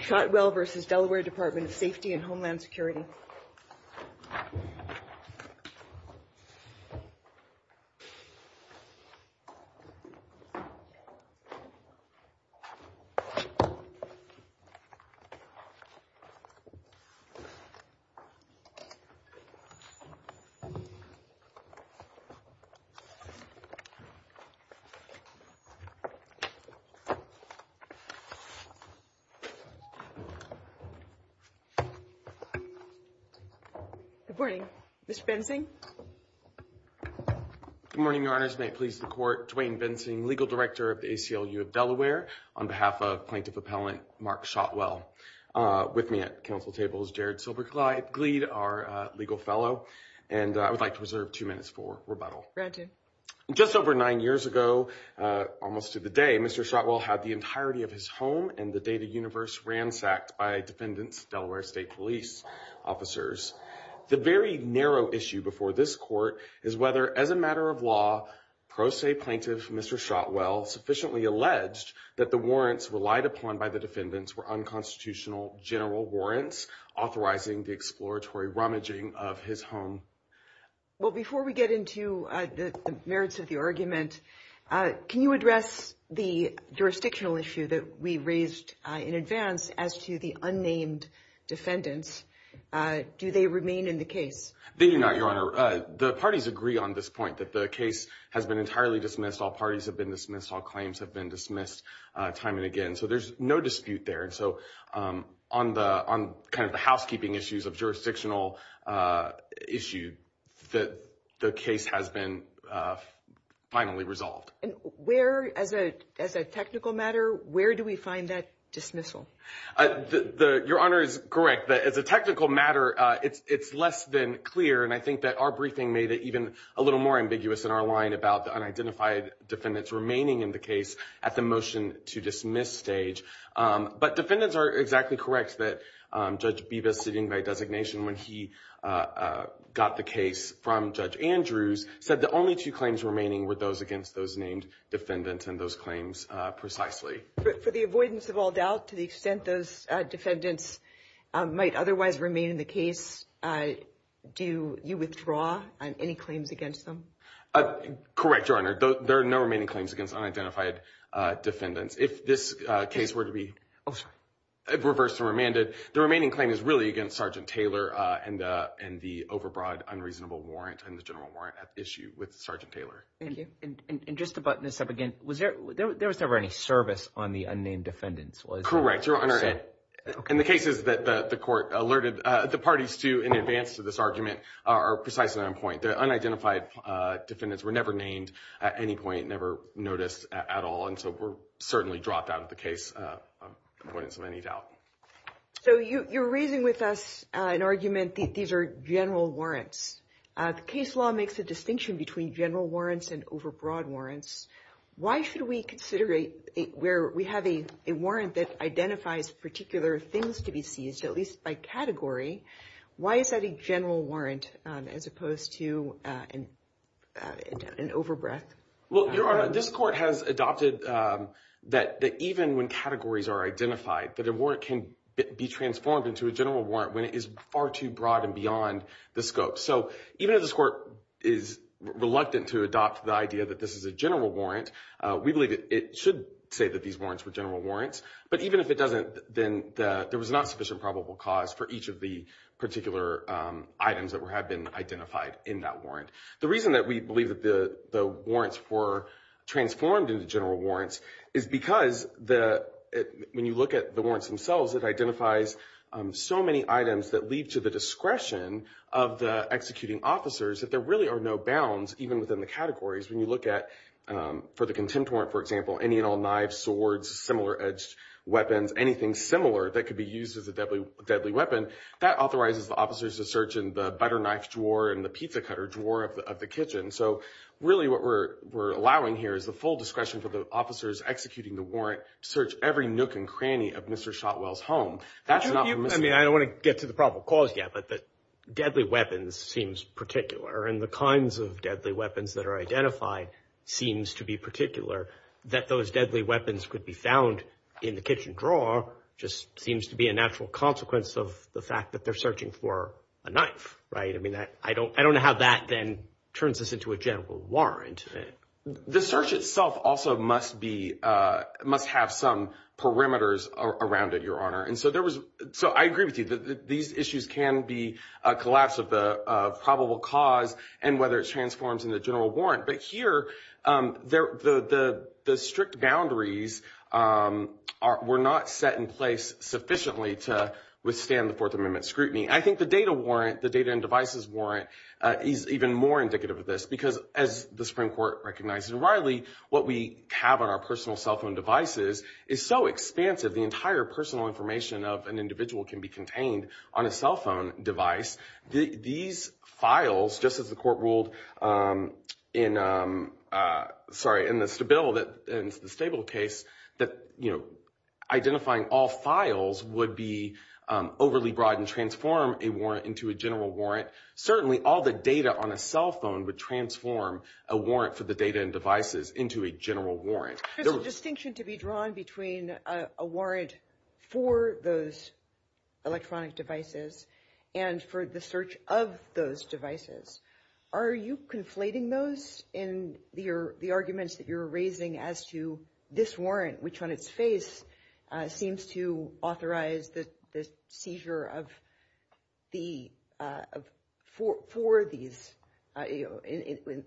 Shotwell v. Delaware Department of Safety and Homeland Security Good morning, Mr. Bensing. Good morning, Your Honors. May it please the Court, Dwayne Bensing, Legal Director of the ACLU of Delaware, on behalf of Plaintiff Appellant Mark Shotwell. With me at the council table is Jared Silbergleid, our legal fellow, and I would like to reserve two minutes for rebuttal. Just over nine years ago, almost to the day, Mr. Shotwell had the entirety of his home and the data universe ransacked by defendants, Delaware State Police officers. The very narrow issue before this Court is whether, as a matter of law, pro se plaintiff, Mr. Shotwell, sufficiently alleged that the warrants relied upon by the defendants were unconstitutional general warrants authorizing the exploratory rummaging of his home. Well, before we get into the merits of the argument, can you address the jurisdictional issue that we raised in advance as to the unnamed defendants? Do they remain in the case? They do not, Your Honor. The parties agree on this point, that the case has been entirely dismissed. All parties have been dismissed. All claims have been dismissed time and again. So there's no dispute there. And so on kind of the housekeeping issues of jurisdictional issue, the case has been finally resolved. And where, as a technical matter, where do we find that dismissal? Your Honor is correct that as a technical matter, it's less than clear. And I think that our briefing made it even a little more ambiguous in our line about the unidentified defendants remaining in the case at the motion to dismiss stage. But defendants are exactly correct that Judge Bevis, sitting by designation when he got the case from Judge Andrews, said the only two claims remaining were those against those named defendants and those claims precisely. But for the avoidance of all doubt, to the extent those defendants might otherwise remain in the case, do you withdraw any claims against them? Correct, Your Honor. There are no remaining claims against unidentified defendants. If this case were to be reversed and remanded, the remaining claim is really against Sergeant Taylor and the overbroad unreasonable warrant and the general warrant at issue with Sergeant Taylor. Thank you. And just to button this up again, there was never any service on the unnamed defendants, was there? Correct, Your Honor. And the cases that the court alerted the parties to in advance to this argument are precisely on point. The unidentified defendants were never named at any point, never noticed at all. And so we're certainly dropped out of the case avoidance of any doubt. So you're raising with us an argument that these are general warrants. The case law makes a distinction between general warrants and overbroad warrants. Why should we consider it where we have a warrant that identifies particular things to be seized, at least by category? Why is that a general warrant as opposed to an overbreadth? Well, Your Honor, this court has adopted that even when categories are identified, that a warrant can be transformed into a general warrant when it is far too broad and beyond the scope. So even if this court is reluctant to adopt the idea that this is a general warrant, we believe it should say that these warrants were general warrants. But even if it doesn't, then there was not sufficient probable cause for each of the particular items that have been identified in that warrant. The reason that we believe that the warrants were transformed into general warrants is because when you look at the warrants themselves, it identifies so many items that leave to the discretion of the executing officers that there really are no bounds even within the categories. When you look at, for the contempt warrant, for example, any and all knives, swords, similar edged weapons, anything similar that could be used as a deadly weapon, that authorizes the officers to search in the butter knife drawer and the pizza cutter drawer of the kitchen. So really what we're allowing here is the full discretion for the officers executing the warrant to search every nook and cranny of Mr. Shotwell's home. I don't want to get to the probable cause yet, but the deadly weapons seems particular and the kinds of deadly weapons that are identified seems to be particular. That those deadly weapons seem to be a natural consequence of the fact that they're searching for a knife, right? I mean, I don't know how that then turns this into a general warrant. The search itself also must have some perimeters around it, Your Honor. And so I agree with you that these issues can be a collapse of the probable cause and whether it transforms in the general warrant. But here, the strict boundaries were not set in place sufficiently to withstand the Fourth Amendment scrutiny. I think the data warrant, the data and devices warrant, is even more indicative of this, because as the Supreme Court recognized in Riley, what we have on our personal cell phone devices is so expansive, the entire personal information of an individual can be contained on a cell phone device. These files, just as the court ruled in the Stabile case, that identifying all files would be overly broad and transform a warrant into a general warrant. Certainly all the data on a cell phone would transform a warrant for the data and devices into a general warrant. There's a distinction to be drawn between a warrant for those electronic devices and for the search of those devices. Are you conflating those in the arguments that you're raising as to this warrant, which on its face seems to authorize the seizure of the, for these, in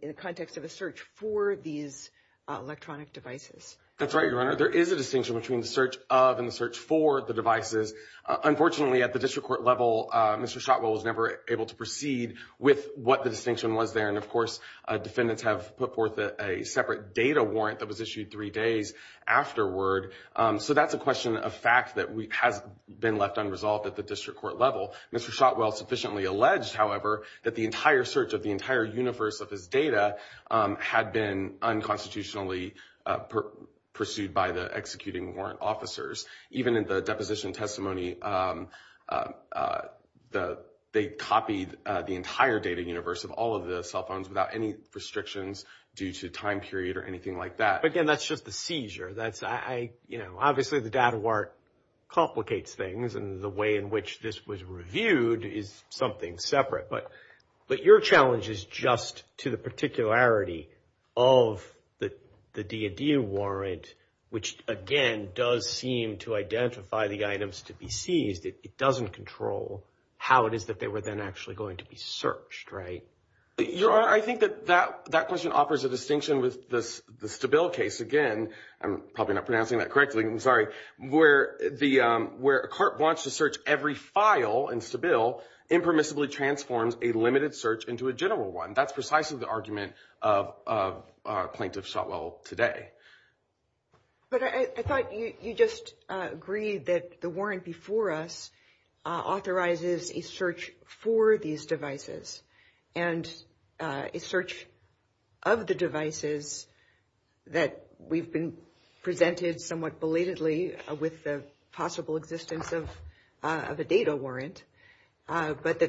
the context of a search for these electronic devices? That's right, Your Honor. There is a distinction between the search of and the search for the devices. Unfortunately, at the district court level, Mr. Shotwell was never able to proceed with what the distinction was there. And of course, defendants have put forth a separate data warrant that was issued three days afterward. So that's a question of fact that has been left unresolved at the district court level. Mr. Shotwell sufficiently alleged, however, that the entire search of the entire universe of his data had been unconstitutionally pursued by the executing warrant officers. Even in the deposition testimony, they copied the entire data universe of all of the cell phones without any restrictions due to time period or anything like that. Again, that's just the seizure. Obviously the data warrant complicates things. And the way in which this was reviewed is something separate. But your challenge is just to the particularity of the D&D warrant, which, again, does seem to identify the items to be seized. It doesn't control how it is that they were then actually going to be searched, right? Your Honor, I think that that question offers a distinction with the Stabile case. Again, I'm probably not pronouncing that correctly. I'm sorry. Where a court wants to search every file in Stabile impermissibly transforms a limited search into a general one. That's precisely the argument of Plaintiff Shotwell today. But I thought you just agreed that the warrant before us authorizes a search for these devices and a search of the devices that we've been presented somewhat belatedly with the possible existence of a data warrant. But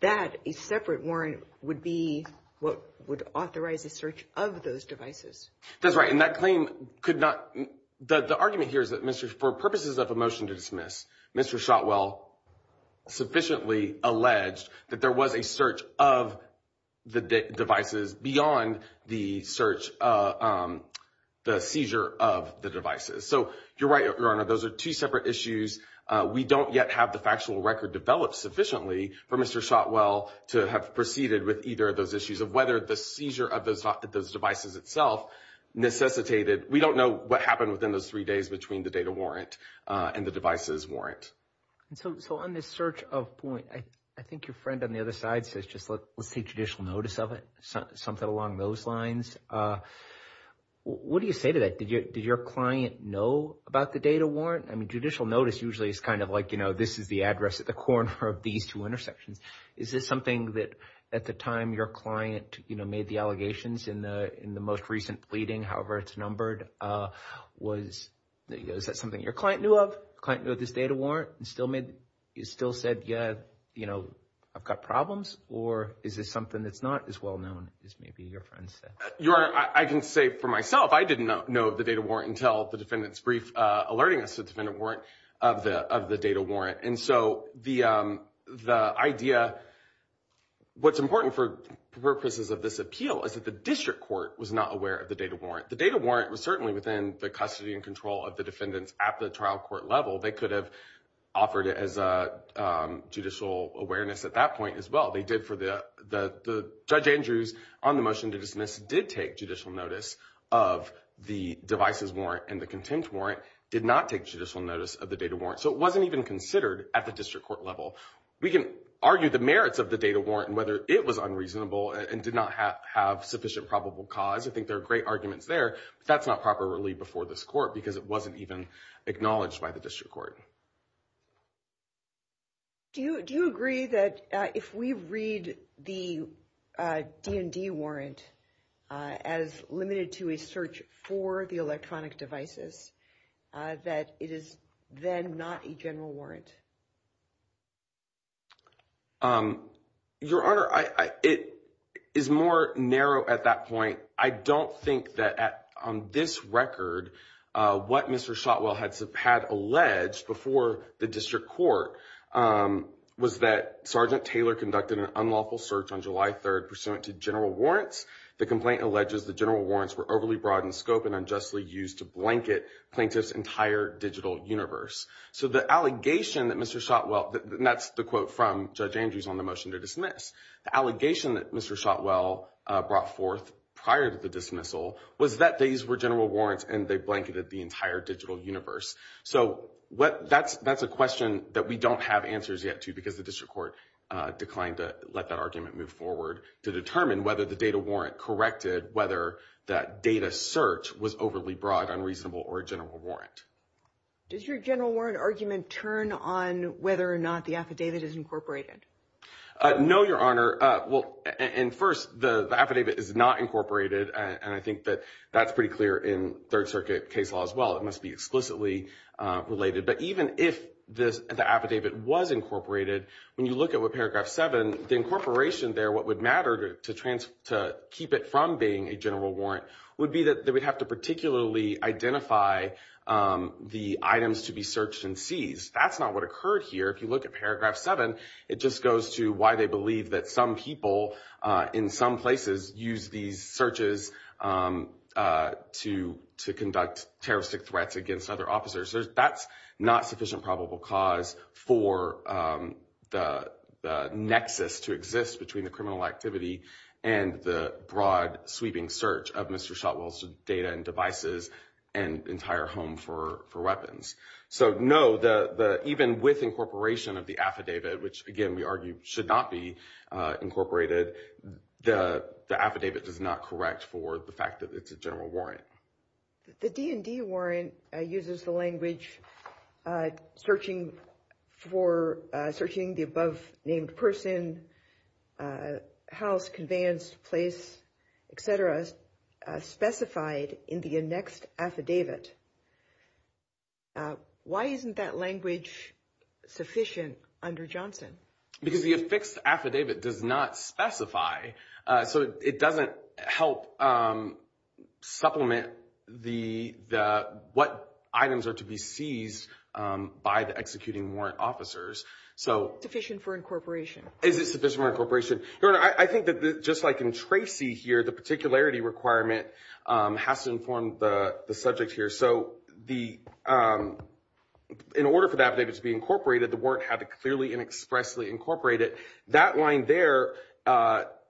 that a separate warrant would be what would authorize a search of those devices. That's right. And that claim could not. The argument here is that for purposes of a motion to dismiss, Mr. Shotwell sufficiently alleged that there was a search of the devices beyond the search, the seizure of the devices. So you're right, Your Honor, those are two separate issues. We don't yet have the factual record developed sufficiently for Mr. Shotwell to have proceeded with either of those issues of whether the seizure of those devices itself necessitated. We don't know what happened within those three days between the data warrant and the devices warrant. So on this search of point, I think your friend on the other side says just let's take judicial notice of it. Something along those lines. What do you say to that? Did your client know about the data warrant? I mean, judicial notice usually is kind of like, you know, this is the address at the corner of these two intersections. Is this something that at the time your client made the allegations in the most recent pleading, however it's numbered, was that something your client knew of? Client knew of this data warrant and still said, yeah, you know, I've got problems. Or is this something that's not as well known as maybe your friend said? Your Honor, I can say for myself, I didn't know of the data warrant until the defendant's brief alerting us of the data warrant. And so the idea, what's important for purposes of this appeal is that the district court was not aware of the data warrant. The data warrant was certainly within the custody and control of the defendants at the trial court level. They could have offered it as a judicial awareness at that point as well. They did for the Judge Andrews on the motion to dismiss did take judicial notice of the devices warrant and the contempt warrant did not take judicial notice of the data warrant. So it wasn't even considered at the district court level. We can argue the merits of the data warrant and whether it was unreasonable and did not have sufficient probable cause. I think there are great arguments there, but that's not properly before this court because it wasn't even acknowledged by the district court. Do you agree that if we read the D&D warrant as limited to a search for the electronic devices that it is then not a general warrant? Your Honor, it is more narrow at that point. I don't think that on this record what Mr. Shotwell had alleged before the district court was that Sergeant Taylor conducted an unlawful search on July 3rd pursuant to general warrants. The complaint alleges the general warrants were overly broad in scope and unjustly used to blanket plaintiffs entire digital universe. So the allegation that Mr. Shotwell, and that's the quote from Judge Andrews on the motion to dismiss, the allegation that Mr. Shotwell brought forth prior to the dismissal was that these were general warrants and they blanketed the entire digital universe. So that's a question that we don't have answers yet to because the district court declined to let that argument move forward to determine whether the data warrant corrected whether that data search was overly broad, unreasonable or a general warrant. Does your general warrant argument turn on whether or not the affidavit is incorporated? No, Your Honor. Well, and first the affidavit is not incorporated. And I think that that's pretty clear in third circuit case law as well. It must be explicitly related. But even if the affidavit was incorporated, when you look at what paragraph 7, the incorporation there, what would matter to keep it from being a general warrant would be that we'd have to particularly identify the items to be searched and seized. That's not what occurred here. If you look at paragraph 7, it just goes to why they believe that some people in some places use these searches to to conduct terroristic threats against other officers. That's not sufficient probable cause for the nexus to exist between the criminal activity and the broad sweeping search of Mr. Shotwell's data and devices and entire home for weapons. So, no, even with incorporation of the affidavit, which again we argue should not be incorporated, the affidavit does not correct for the fact that it's a general warrant. The D&D warrant uses the language searching for searching the above named person, house, conveyance, place, etc. specified in the annexed affidavit. Why isn't that language sufficient under Johnson? Because the affixed affidavit does not specify. So it doesn't help supplement what items are to be seized by the executing warrant officers. Is it sufficient for incorporation? I think that just like in Tracy here, the particularity requirement has to inform the subject here. So the in order for the affidavit to be incorporated, the warrant had to clearly and expressly incorporate it. That line there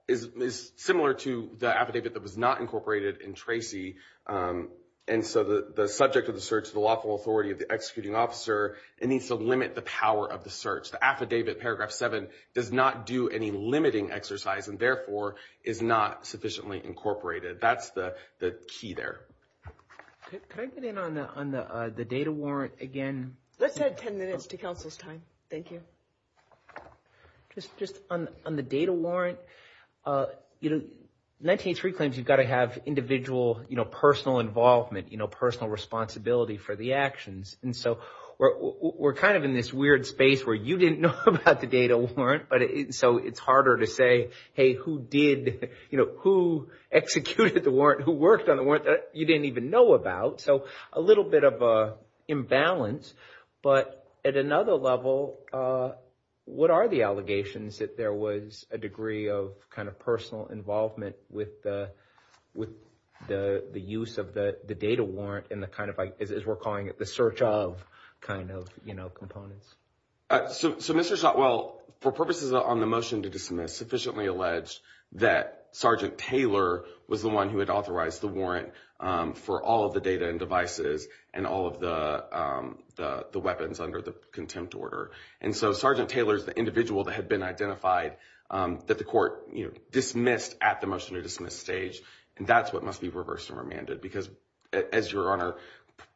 is similar to the affidavit that was not incorporated in Tracy. And so the subject of the search, the lawful authority of the executing officer, it needs to limit the power of the search. The affidavit, paragraph 7, does not do any limiting exercise and therefore is not sufficiently incorporated. That's the key there. Let's add 10 minutes to counsel's time. Thank you. Just on the data warrant, 1983 claims you've got to have individual personal involvement, personal responsibility for the actions. And so we're kind of in this weird space where you didn't know about the data warrant. So it's harder to say, hey, who executed the warrant? Who worked on the warrant that you didn't even know about? So a little bit of an imbalance. But at another level, what are the allegations that there was a degree of kind of personal involvement with the use of the data warrant and the kind of, as we're calling it, the search of kind of components? So Mr. Shotwell, for purposes on the motion to dismiss, sufficiently alleged that Sergeant Taylor was the one who had authorized the warrant for all of the data and devices and all of the weapons under the contempt order. And so Sergeant Taylor is the individual that had been identified that the court dismissed at the motion to dismiss stage. And that's what must be reversed and remanded. Because as Your Honor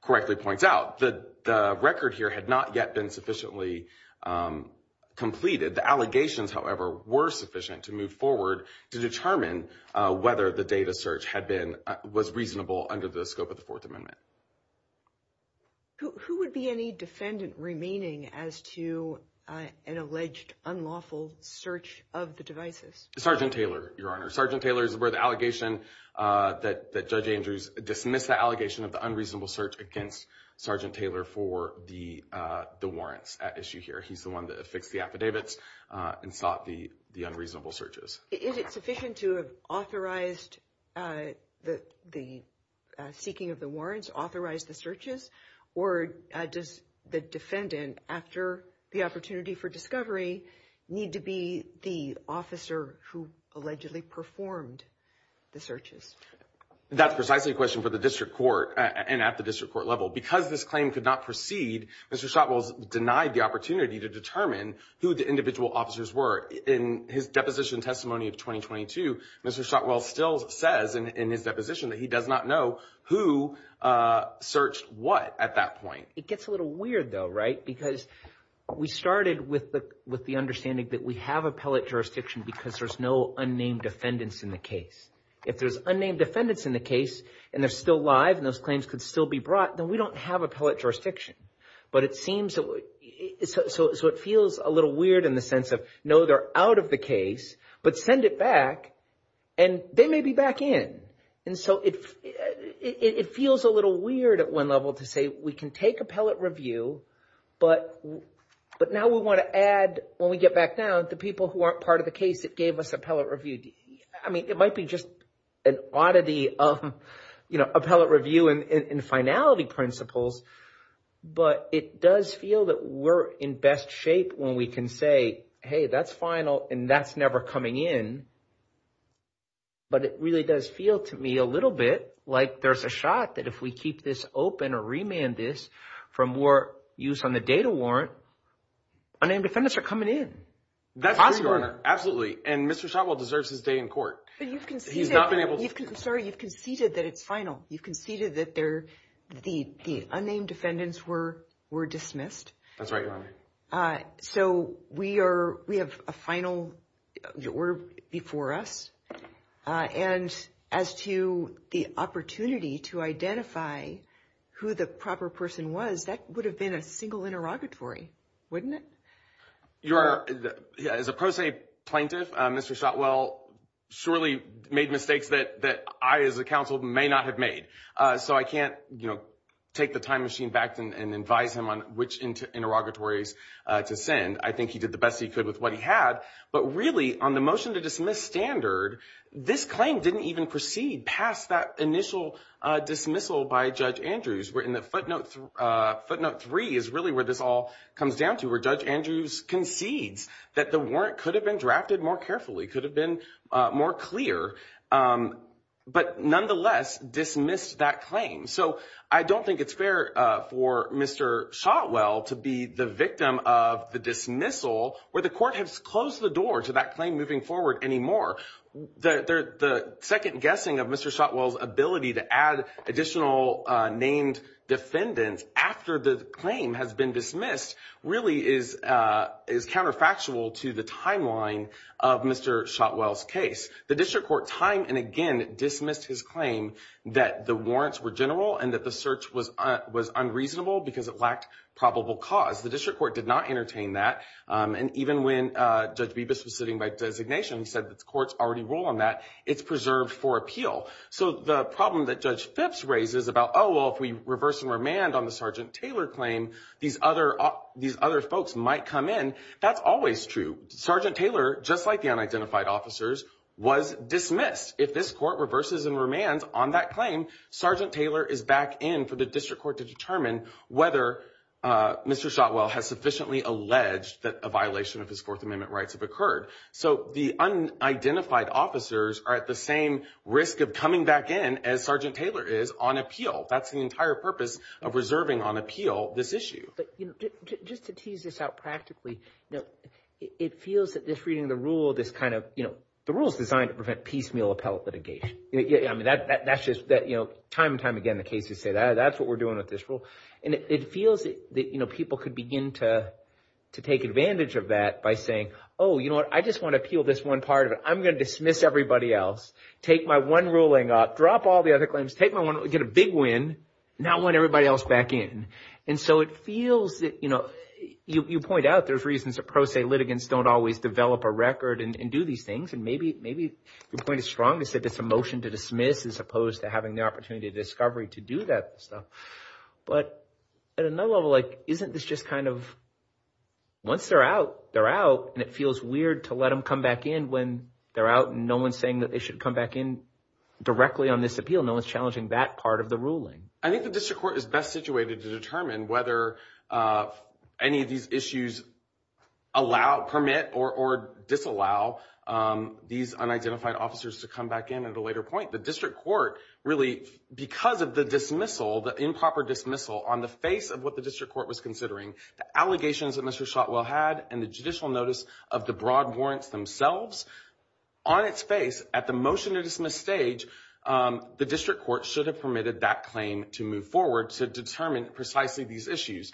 correctly points out, the record here had not yet been sufficiently completed. The allegations, however, were sufficient to move forward to determine whether the data search had been was reasonable under the scope of the Fourth Amendment. Who would be any defendant remaining as to an alleged unlawful search of the devices? Sergeant Taylor, Your Honor. Sergeant Taylor is where the allegation that Judge Andrews dismissed the allegation of the unreasonable search against Sergeant Taylor for the warrants at issue here. He's the one that affixed the affidavits and sought the unreasonable searches. Is it sufficient to have authorized the seeking of the warrants, authorized the searches? Or does the defendant, after the opportunity for discovery, need to be the officer who allegedly performed the searches? That's precisely a question for the district court and at the district court level. Because this claim could not proceed, Mr. Shotwell denied the opportunity to determine who the individual officers were. In his deposition testimony of 2022, Mr. Shotwell still says in his deposition that he does not know who searched what at that point. It gets a little weird, though, right? Because we started with the understanding that we have appellate jurisdiction because there's no unnamed defendants in the case. If there's unnamed defendants in the case and they're still alive and those claims could still be brought, then we don't have appellate jurisdiction. So it feels a little weird in the sense of, no, they're out of the case, but send it back and they may be back in. And so it feels a little weird at one level to say we can take appellate review, but now we want to add, when we get back down, the people who aren't part of the case that gave us appellate review. I mean, it might be just an oddity of appellate review and finality principles, but it does feel that we're in best shape when we can say, hey, that's final and that's never coming in. But it really does feel to me a little bit like there's a shot that if we keep this open or remand this from war use on the data warrant, unnamed defendants are coming in. That's true, Your Honor. Absolutely. And Mr. Shotwell deserves his day in court. Sorry, you've conceded that it's final. You've conceded that the unnamed defendants were dismissed. That's right, Your Honor. So we have a final order before us. And as to the opportunity to identify who the proper person was, that would have been a single interrogatory, wouldn't it? As a pro se plaintiff, Mr. Shotwell surely made mistakes that I as a counsel may not have made. So I can't take the time machine back and advise him on which interrogatories to send. I think he did the best he could with what he had. But really on the motion to dismiss standard, this claim didn't even proceed past that initial dismissal by Judge Andrews. We're in the footnote. Footnote three is really where this all comes down to where Judge Andrews concedes that the warrant could have been drafted more carefully, could have been more clear, but nonetheless dismissed that claim. So I don't think it's fair for Mr. Shotwell to be the victim of the dismissal where the court has closed the door to that claim moving forward anymore. The second guessing of Mr. Shotwell's ability to add additional named defendants after the claim has been dismissed really is counterfactual to the timeline of Mr. Shotwell's case. The district court time and again dismissed his claim that the warrants were general and that the search was unreasonable because it lacked probable cause. The district court did not entertain that. And even when Judge Bibas was sitting by designation, he said that the courts already rule on that. It's preserved for appeal. So the problem that Judge Phipps raises about, oh, well, if we reverse and remand on the Sergeant Taylor claim, these other folks might come in. That's always true. Sergeant Taylor, just like the unidentified officers, was dismissed. If this court reverses and remands on that claim, Sergeant Taylor is back in for the district court to determine whether Mr. Shotwell has sufficiently alleged that a violation of his Fourth Amendment rights have occurred. So the unidentified officers are at the same risk of coming back in as Sergeant Taylor is on appeal. That's the entire purpose of reserving on appeal this issue. Just to tease this out practically, it feels that this reading of the rule, this kind of, you know, the rule is designed to prevent piecemeal appellate litigation. I mean, that's just that, you know, time and time again, the cases say that's what we're doing with this rule. And it feels that, you know, people could begin to take advantage of that by saying, oh, you know what, I just want to appeal this one part of it. I'm going to dismiss everybody else, take my one ruling up, drop all the other claims, take my one, get a big win, now I want everybody else back in. And so it feels that, you know, you point out there's reasons that pro se litigants don't always develop a record and do these things. And maybe your point is strong to say that's a motion to dismiss as opposed to having the opportunity of discovery to do that stuff. But at another level, like, isn't this just kind of, once they're out, they're out, and it feels weird to let them come back in when they're out and no one's saying that they should come back in directly on this appeal. No one's challenging that part of the ruling. I think the district court is best situated to determine whether any of these issues allow, permit, or disallow these unidentified officers to come back in at a later point. The district court really, because of the dismissal, the improper dismissal on the face of what the district court was considering, the allegations that Mr. Shotwell had, and the judicial notice of the broad warrants themselves, on its face, at the motion to dismiss stage, the district court should have permitted that claim to move forward to determine precisely these issues.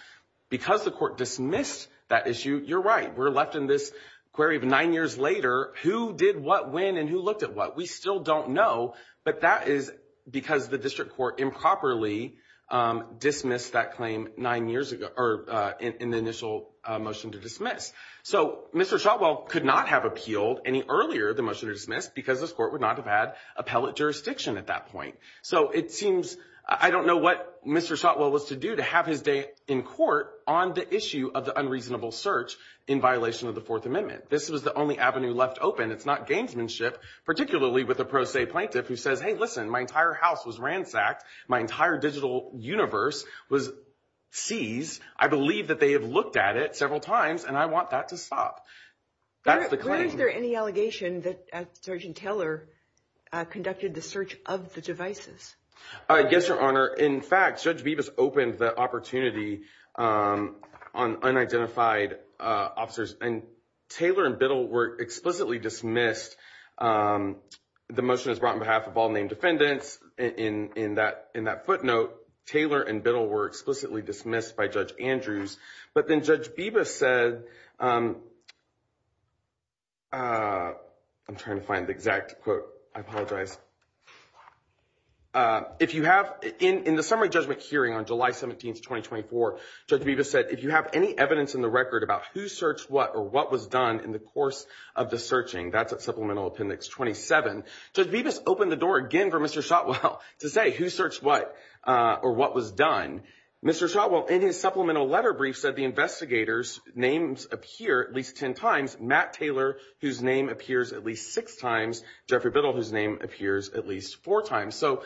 Because the court dismissed that issue, you're right, we're left in this query of nine years later, who did what when and who looked at what? We still don't know, but that is because the district court improperly dismissed that claim nine years ago, or in the initial motion to dismiss. So Mr. Shotwell could not have appealed any earlier the motion to dismiss because this court would not have had appellate jurisdiction at that point. So it seems, I don't know what Mr. Shotwell was to do to have his day in court on the issue of the unreasonable search in violation of the Fourth Amendment. This was the only avenue left open. It's not gamesmanship, particularly with a pro se plaintiff who says, hey, listen, my entire house was ransacked. My entire digital universe was seized. I believe that they have looked at it several times and I want that to stop. Where is there any allegation that Sergeant Taylor conducted the search of the devices? Yes, Your Honor. In fact, Judge Bevis opened the opportunity on unidentified officers and Taylor and Biddle were explicitly dismissed. The motion is brought on behalf of all named defendants. In that footnote, Taylor and Biddle were explicitly dismissed by Judge Andrews. But then Judge Bevis said I'm trying to find the exact quote. I apologize. If you have in the report the information about who searched what or what was done in the course of the searching, that's at Supplemental Appendix 27. Judge Bevis opened the door again for Mr. Shotwell to say who searched what or what was done. Mr. Shotwell, in his supplemental letter brief, said the investigators' names appear at least ten times, Matt Taylor, whose name appears at least six times, Jeffrey Biddle, whose name appears at least four times. So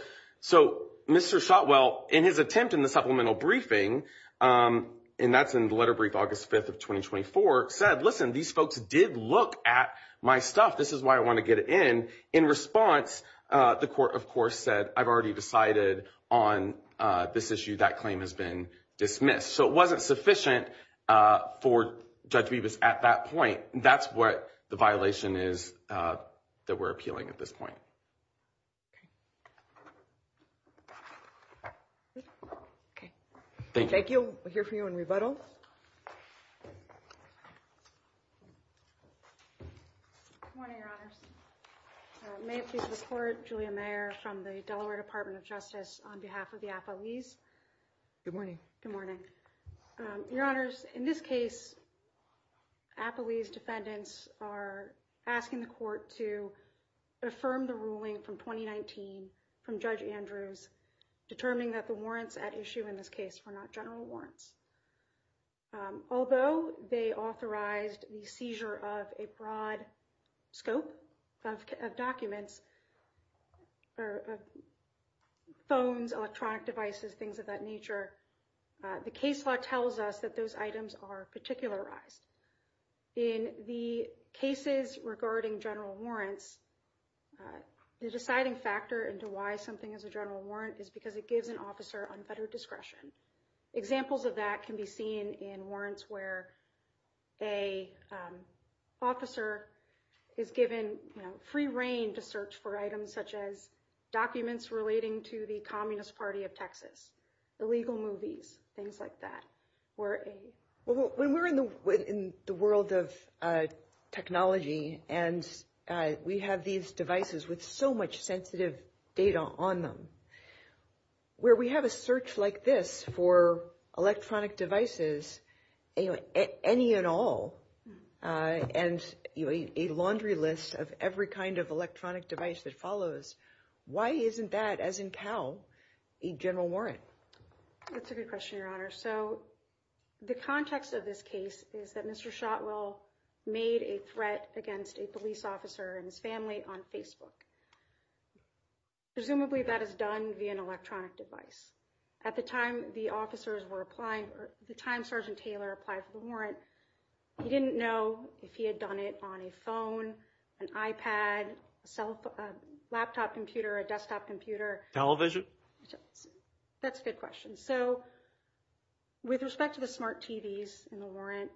Mr. Shotwell, in his attempt in the supplemental briefing, and that's in the letter brief August 5th of 2024, said, listen, these folks did look at my stuff. This is why I want to get it in. In response, the court, of course, said, I've already decided on this issue. That claim has been dismissed. So it wasn't sufficient for Judge Bevis at that point. That's what the violation is that we're appealing at this point. Okay. Thank you. We'll hear from you in rebuttal. Good morning, Your Honors. May it please the Court, Julia Mayer from the Delaware Department of Justice on behalf of the affilees. Good morning. Good morning. Your Honors, in this case, affilees defendants are asking the court to affirm the ruling from 2019 from Judge Andrews, determining that the warrants at issue in this case were not general warrants. Although they authorized the seizure of a broad scope of documents, phones, electronic devices, things of that nature, the case law tells us that those items are particularized. In the cases regarding general warrants, the deciding factor into why something is a general warrant is because it gives an officer unfettered discretion. Examples of that can be seen in warrants where an officer is given free reign to search for items such as documents relating to the Communist Party of Texas, illegal movies, things like that. When we're in the world of technology and we have these devices with so much sensitive data on them, where we have a search like this for electronic devices, any and all, and a laundry list of every kind of electronic device that follows, why isn't that, as in Cal, a general warrant? That's a good question, Your Honor. So the context of this case is that Mr. Shotwell made a threat against a police officer and his family on Facebook. Presumably that is done via an electronic device. At the time the officers were applying, at the time Sergeant Taylor applied for the warrant, he didn't know if he had done it on a phone, an iPad, a laptop computer, a desktop computer. Television? That's a good question. With respect to the smart TVs in the warrant,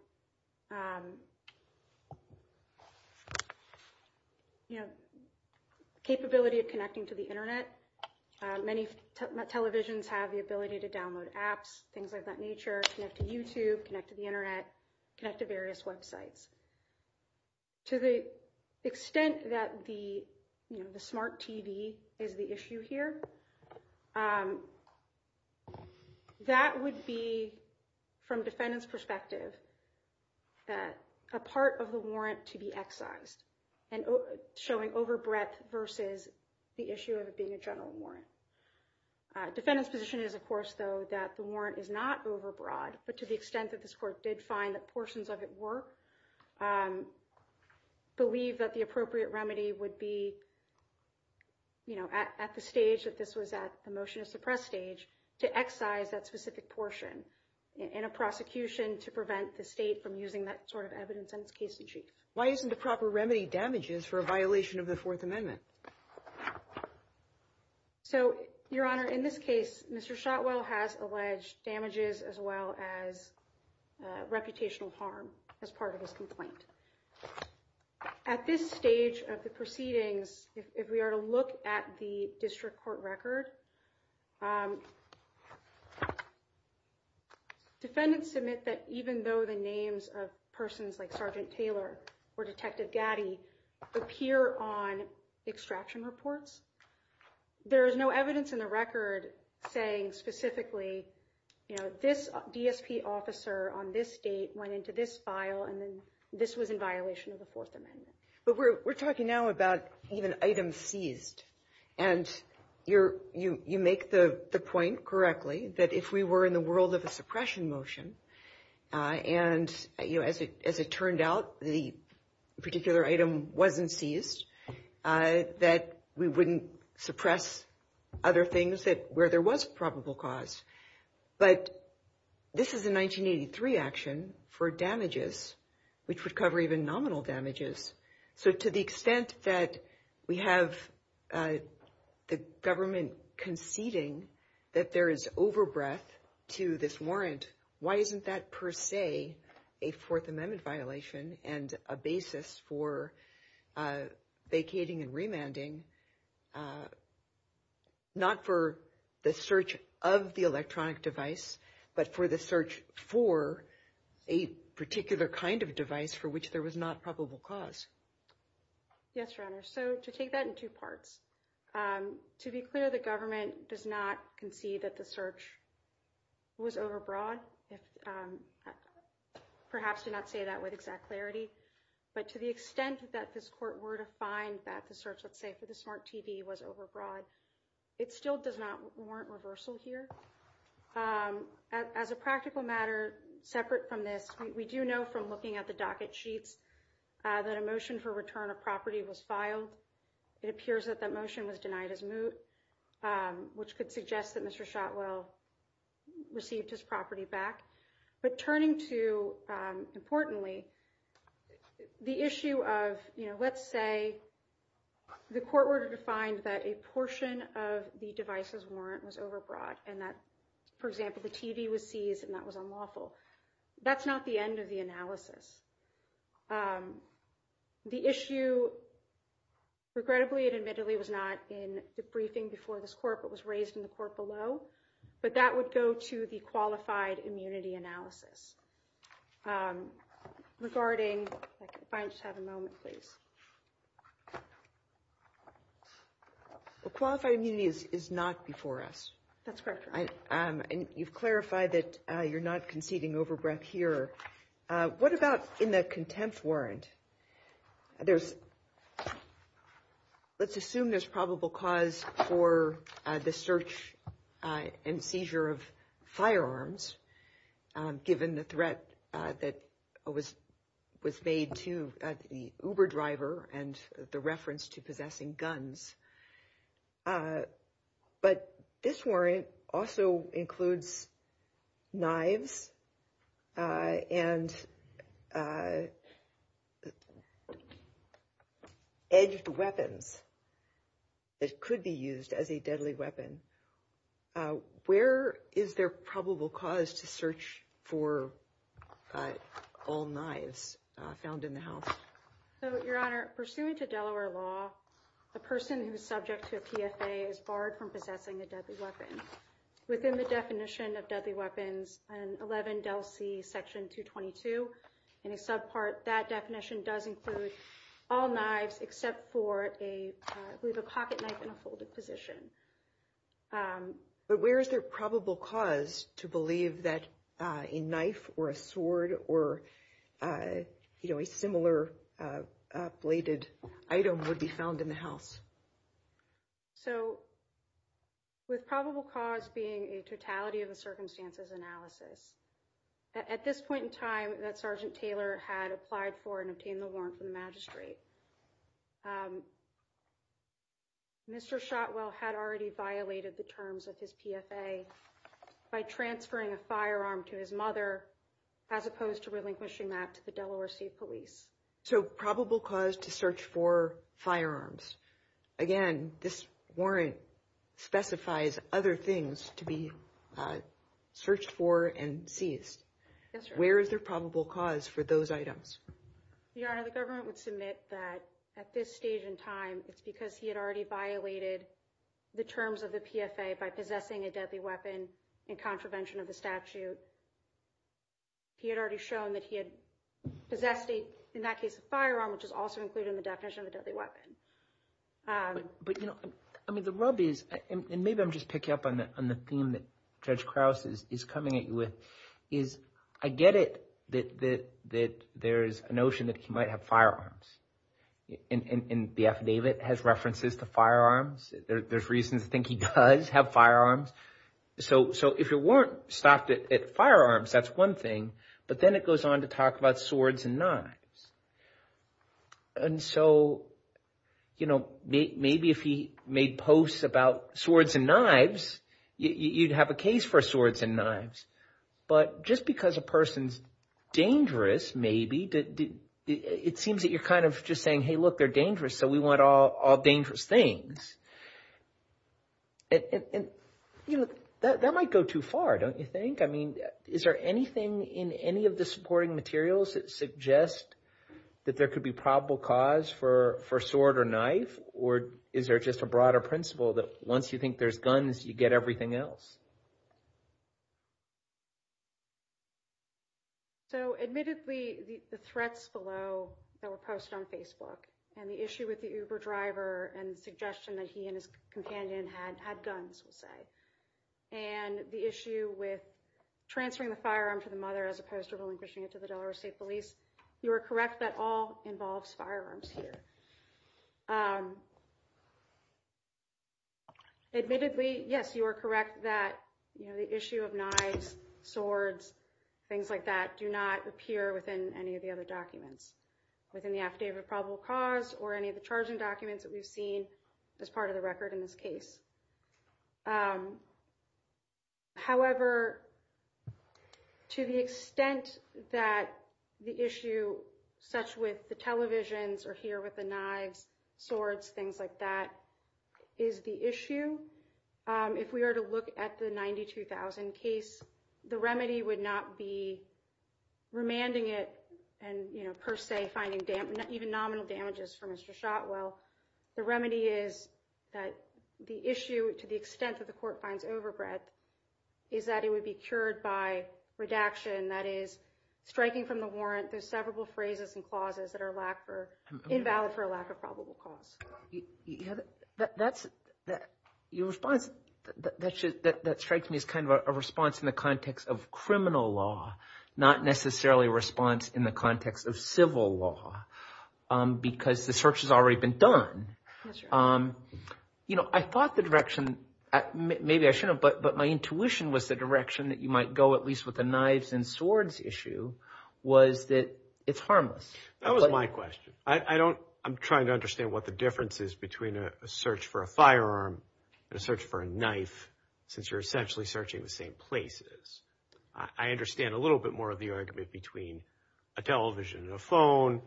the capability of connecting to the Internet, many televisions have the ability to download apps, things of that nature, connect to YouTube, connect to the Internet, connect to various websites. To the extent that the smart TV is the issue here, that would be, from defendant's perspective, a part of the warrant to be excised, showing overbreadth versus the issue of it being a general warrant. Defendant's position is, of course, though, that the warrant is not overbroad, but to the extent that this court did find that portions of it work, believe that the appropriate remedy would be at the stage that this was at, the motion to suppress stage, to excise that specific portion in a prosecution to prevent the state from using that sort of evidence on its case sheet. Why isn't the proper remedy damages for a violation of the Fourth Amendment? So, Your Honor, in this case, Mr. Shotwell has alleged damages as well as reputational harm as part of his complaint. At this stage of the proceedings, if we are to look at the state district court record, defendants submit that even though the names of persons like Sergeant Taylor or Detective Gaddy appear on extraction reports, there is no evidence in the record saying specifically, you know, this DSP officer on this date went into this file and then this was in violation of the Fourth Amendment. But we're talking now about even items seized, and you make the point correctly that if we were in the world of a suppression motion, and, you know, as it turned out, the particular item wasn't seized, that we wouldn't suppress other things where there was probable cause. But this is a 1983 action for damages, which would cover even nominal damages. So to the extent that we have the government conceding that there is overbreath to this warrant, why isn't that per se a Fourth Amendment violation and a basis for vacating and remanding, not for the search of the electronic device, but for the search for a particular kind of device for which there was not probable cause? Yes, Your Honor. So to take that in two parts, to be clear, the government does not concede that the search was overbroad. Perhaps to not say that with exact clarity, but to the extent that this court were to find that the search, let's say, for the smart TV was overbroad, it still does not warrant reversal here. As a practical matter, separate from this, we do know from looking at the docket sheets that a motion for return of property was filed. It appears that that motion was denied as moot, which could suggest that Mr. Shotwell received his property back. But turning to, importantly, the issue of, let's say, the court were to find that a portion of the device's warrant was overbroad and that, for example, the TV was seized and that was unlawful. That's not the end of the analysis. The issue, regrettably and admittedly, was not in the briefing before this court, but was raised in the court below. But that would go to the qualified immunity analysis. Regarding, if I could just have a moment, please. The qualified immunity is not before us. That's correct, Your Honor. And you've clarified that you're not conceding overbroad here. What about in the contempt warrant? Let's assume there's probable cause for the search and seizure of firearms, given the threat that was made to the Uber driver and the reference to possessing guns. But this warrant also includes knives and edged weapons that could be used as a deadly weapon. Where is there probable cause to search for all knives found in the house? Your Honor, pursuant to Delaware law, a person who is in possession of deadly weapons in 11 Del C. Section 222, in a subpart, that definition does include all knives except for a pocket knife in a folded position. But where is there probable cause to believe that a knife or a sword or a similar bladed item would be found in the house? So with probable cause being a totality of the circumstances analysis, at this point in time that Sergeant Taylor had applied for and obtained the warrant from the magistrate, Mr. Shotwell had already violated the terms of his PFA by transferring a firearm to his mother, as opposed to relinquishing that to the defendant. Again, this warrant specifies other things to be searched for and seized. Where is there probable cause for those items? Your Honor, the government would submit that at this stage in time, it's because he had already violated the terms of the PFA by possessing a deadly weapon in contravention of the statute. He had already shown that he had possessed a firearm, which is also included in the definition of a deadly weapon. But the rub is, and maybe I'm just picking up on the theme that Judge Krause is coming at you with, is I get it that there is a notion that he might have firearms. And the affidavit has references to firearms. There's reasons to think he does have firearms. So if the officer weren't stopped at firearms, that's one thing. But then it goes on to talk about swords and knives. And so, you know, maybe if he made posts about swords and knives, you'd have a case for swords and knives. But just because a person's dangerous, maybe, it seems that you're kind of just saying, hey, look, they're dangerous, so we want all things. And, you know, that might go too far, don't you think? I mean, is there anything in any of the supporting materials that suggest that there could be probable cause for sword or knife? Or is there just a broader principle that once you think there's guns, you get everything else? So admittedly, the threats below that were posted on Facebook and the issue with the Uber driver and the suggestion that he and his companion had guns, we'll say, and the issue with transferring the firearm to the mother as opposed to relinquishing it to the Delaware State Police, you are correct that all involves firearms here. Admittedly, yes, you are correct that the issue of knives, swords, things like that do not appear within any of the other documents within the affidavit of probable cause or any of the charging documents that we've seen as part of the record in this case. However, to the extent that the issue such with the televisions or here with the knives, swords, things like that is the issue, if we were to look at the 92,000 case, the remedy would not be remanding it and per se finding even nominal damages for Mr. Shotwell. The remedy is that the issue, to the extent that the court finds overbred, is that it would be cured by redaction, that is, striking from the warrant. There's several phrases and clauses that are invalid for a lack of probable cause. Your response, that strikes me as kind of a response in the context of criminal law, not necessarily a response in the context of civil law, because the search has already been done. I thought the direction, maybe I shouldn't have, but my intuition was the direction that you might go at least with the knives and swords issue was that it's harmless. That was my question. I don't, I'm trying to understand what the difference is between a search for a firearm and a search for a knife, since you're essentially searching the same places. I understand a little bit more of the argument between a television and a phone,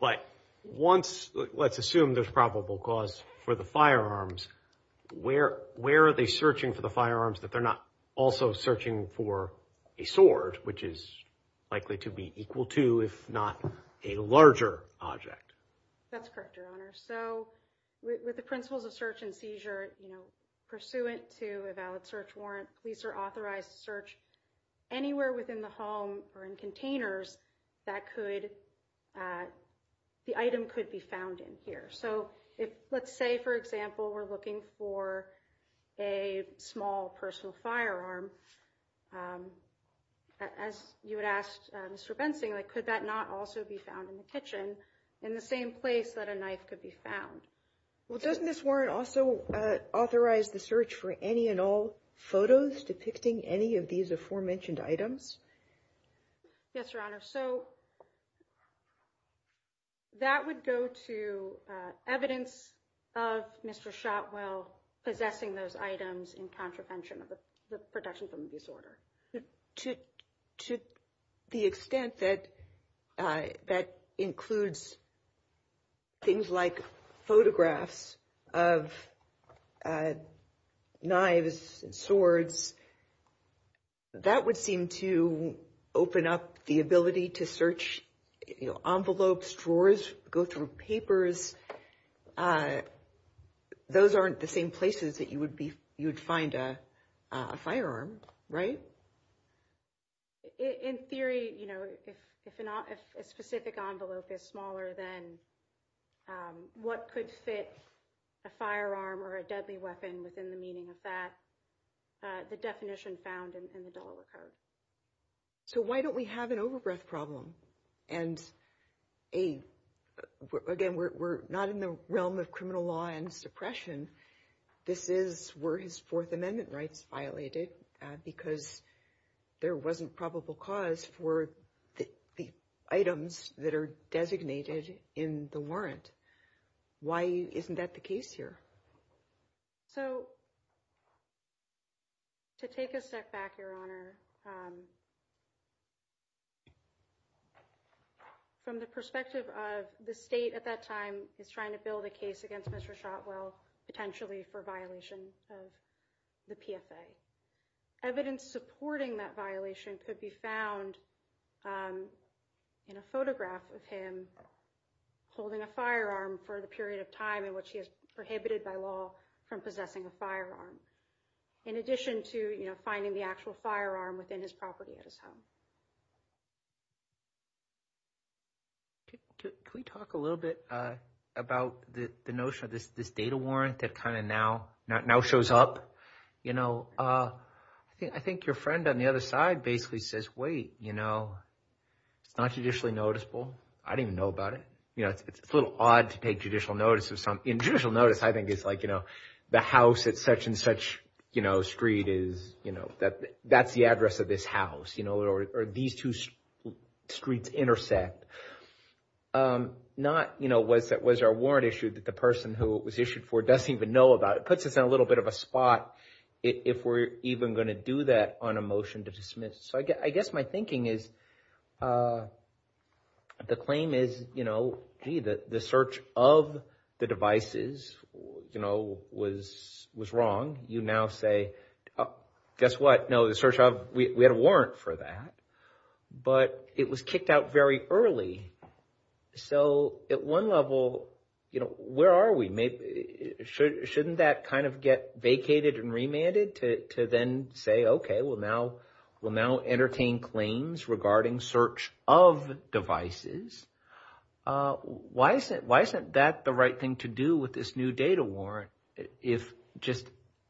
but once, let's assume there's probable cause for the firearms, where are they searching for the firearms that they're not also searching for a sword, which is likely to be equal to, if not a larger object? That's correct, Your Honor. So with the principles of search and seizure, pursuant to a valid search warrant, police are authorized to search anywhere within the home or in containers that could, the item could be found in here. So if, let's say, for example, we're looking for a small personal firearm, as you would ask Mr. Bensing, could that not also be found in the kitchen in the same place that a knife could be found? Well, doesn't this warrant also authorize the search for any and all photos depicting any of these aforementioned items? Yes, Your Honor. So that would go to evidence of Mr. Shotwell possessing those items in contravention of the protection from the disorder. To the extent that that includes things like photographs of knives and swords, that would seem to open up the ability to search envelopes, drawers, go through papers. Those aren't the same places that you would find a firearm, right? In theory, if a specific envelope is smaller than what could fit a firearm or a deadly weapon within the meaning of that, the definition found in the Delaware Code. So why don't we have an overbreath problem? Again, we're not in the realm of criminal law and suppression. This is where his Fourth Amendment rights violated because there wasn't any probable cause for the items that are designated in the warrant. Why isn't that the case here? So to take a step back, Your Honor, from the perspective of the state at that time is trying to build a case against Mr. Shotwell, potentially for violation of the PFA. Evidence supporting that violation could be found in a photograph of him holding a firearm for the period of time in which he is prohibited by law from possessing a firearm. In addition to finding the actual firearm within his property at his home. Can we talk a little bit about the notion of this data warrant that kind of now shows up? I think your friend on the other side basically says, wait, it's not judicially noticeable. I don't even know about it. It's a little odd to take judicial notice of something. Judicial notice, I think, is like the house at such and such street. That's the address of this house. Or these two streets intersect. Was there a warrant issued that the person who it was issued for doesn't even know about? It puts us in a little bit of a spot if we're even going to do that on a motion to dismiss. So I guess my thinking is the claim is, gee, the search of the devices was wrong. You now say, guess what? No, the search of, we had a warrant for that. But it was kicked out very early. So at one level, where are we? Shouldn't that kind of get vacated and remanded to then say, okay, we'll now entertain claims regarding search of devices. Why isn't that the right thing to do with this new data warrant?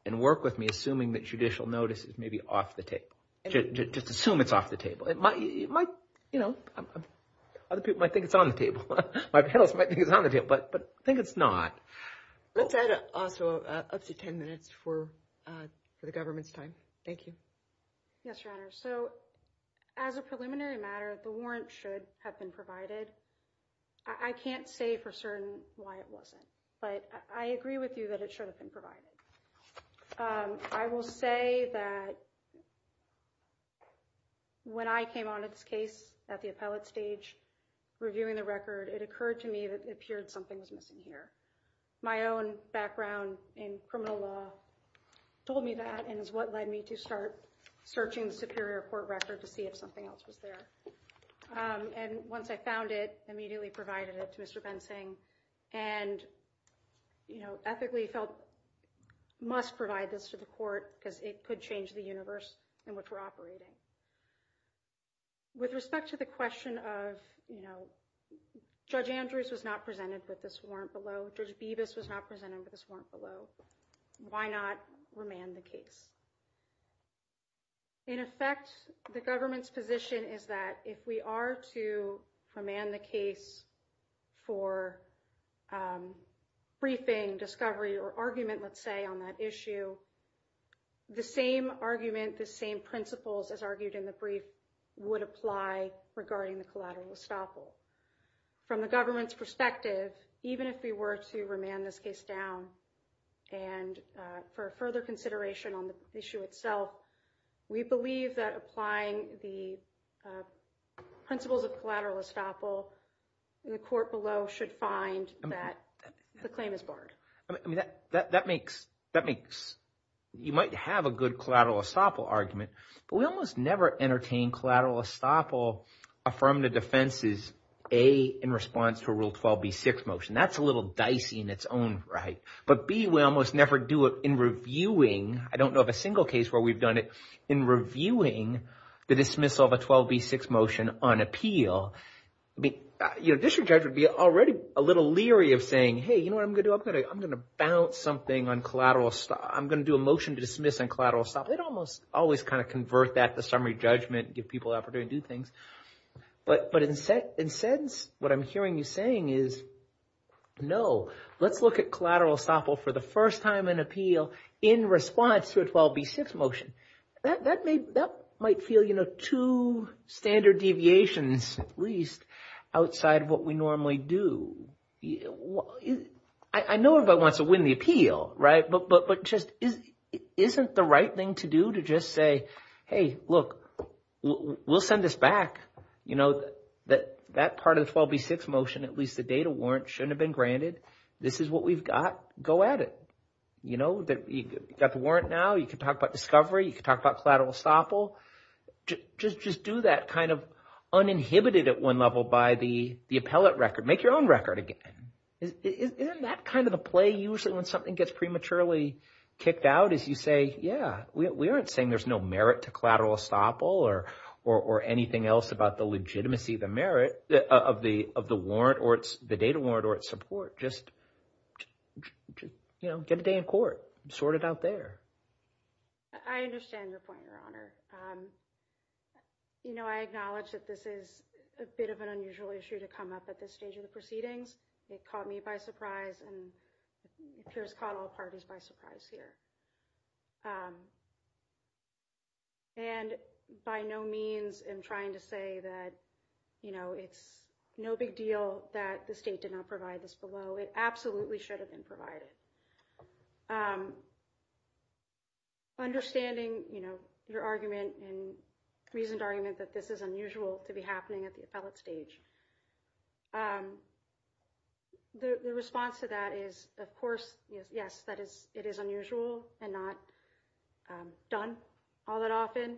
And work with me, assuming that judicial notice is maybe off the table. Just assume it's off the table. Other people might think it's on the table. My panelists might think it's on the table. But I think it's not. Let's add also up to 10 minutes for the government's time. Thank you. Yes, Your Honor. So as a preliminary matter, the warrant should have been provided. I can't say for certain why it wasn't. But I agree with you that it should have been provided. I will say that when I came on this case at the appellate stage, reviewing the record, it occurred to me that it appeared something was missing here. My own background in criminal law told me that and is what led me to start searching the Superior Court record to see if something else was there. And once I found it, immediately provided it to Mr. Bensing and ethically felt must provide this to the court because it could change the universe in which we're operating. With respect to the question of, you know, Judge Andrews was not presented with this warrant below. Judge Bevis was not presented with this warrant below. Why not remand the case? In effect, the government's position is that if we are to remand the case for briefing, discovery or argument, let's say on that issue, the same argument, the same principles as argued in the brief would apply regarding the collateral estoppel. From the government's perspective, even if we were to remand this case down and for further consideration on the issue itself, we believe that applying the principles of collateral estoppel in the court below should find that the claim is barred. I mean, that makes, you might have a good collateral estoppel argument, but we almost never entertain collateral estoppel affirmative defenses, A, in response to a Rule 12b6 motion. That's a little dicey in its own right. But B, we almost never do it in reviewing. I don't know of a single case where we've done it in reviewing the dismissal of a 12b6 motion on appeal. I mean, a district judge would be already a little leery of saying, hey, you know what I'm going to do? I'm going to bounce something on collateral. I'm going to do a motion to dismiss on collateral estoppel. They almost always kind of convert that to summary judgment, give people an opportunity to do things. But in a sense, what I'm hearing you saying is, no, let's look at collateral estoppel for the first time in appeal in response to a 12b6 motion. That might feel, you know, two standard deviations at least outside what we normally do. I know everybody wants to win the appeal, right? But just isn't the right thing to do to just say, hey, look, we'll send this back. You know, that part of the 12b6 motion, at least the data warrant shouldn't have been granted. This is what we've got. Go at it. You know, you've got the warrant now. You can talk about discovery. You can talk about collateral estoppel. Just do that kind of uninhibited at one level by the appellate record. Make your own record again. Isn't that kind of a play usually when something gets prematurely kicked out is you say, yeah, we aren't saying there's no merit to collateral estoppel or anything else about the legitimacy, the merit of the warrant or the data warrant or its support. Just, you know, get a day in court. Sort it out there. I understand your point, Your Honor. You know, I acknowledge that this is a bit of an unusual issue to come up at this stage of the proceedings. It caught me by surprise and appears caught all parties by surprise here. And by no means I'm trying to say that, you know, it's no big deal that the state did not provide this below. It absolutely should have been provided. Understanding, you know, your argument and reasoned argument that this is unusual to be happening at the appellate stage. The response to that is, of course, yes, that is it is unusual and not done all that often.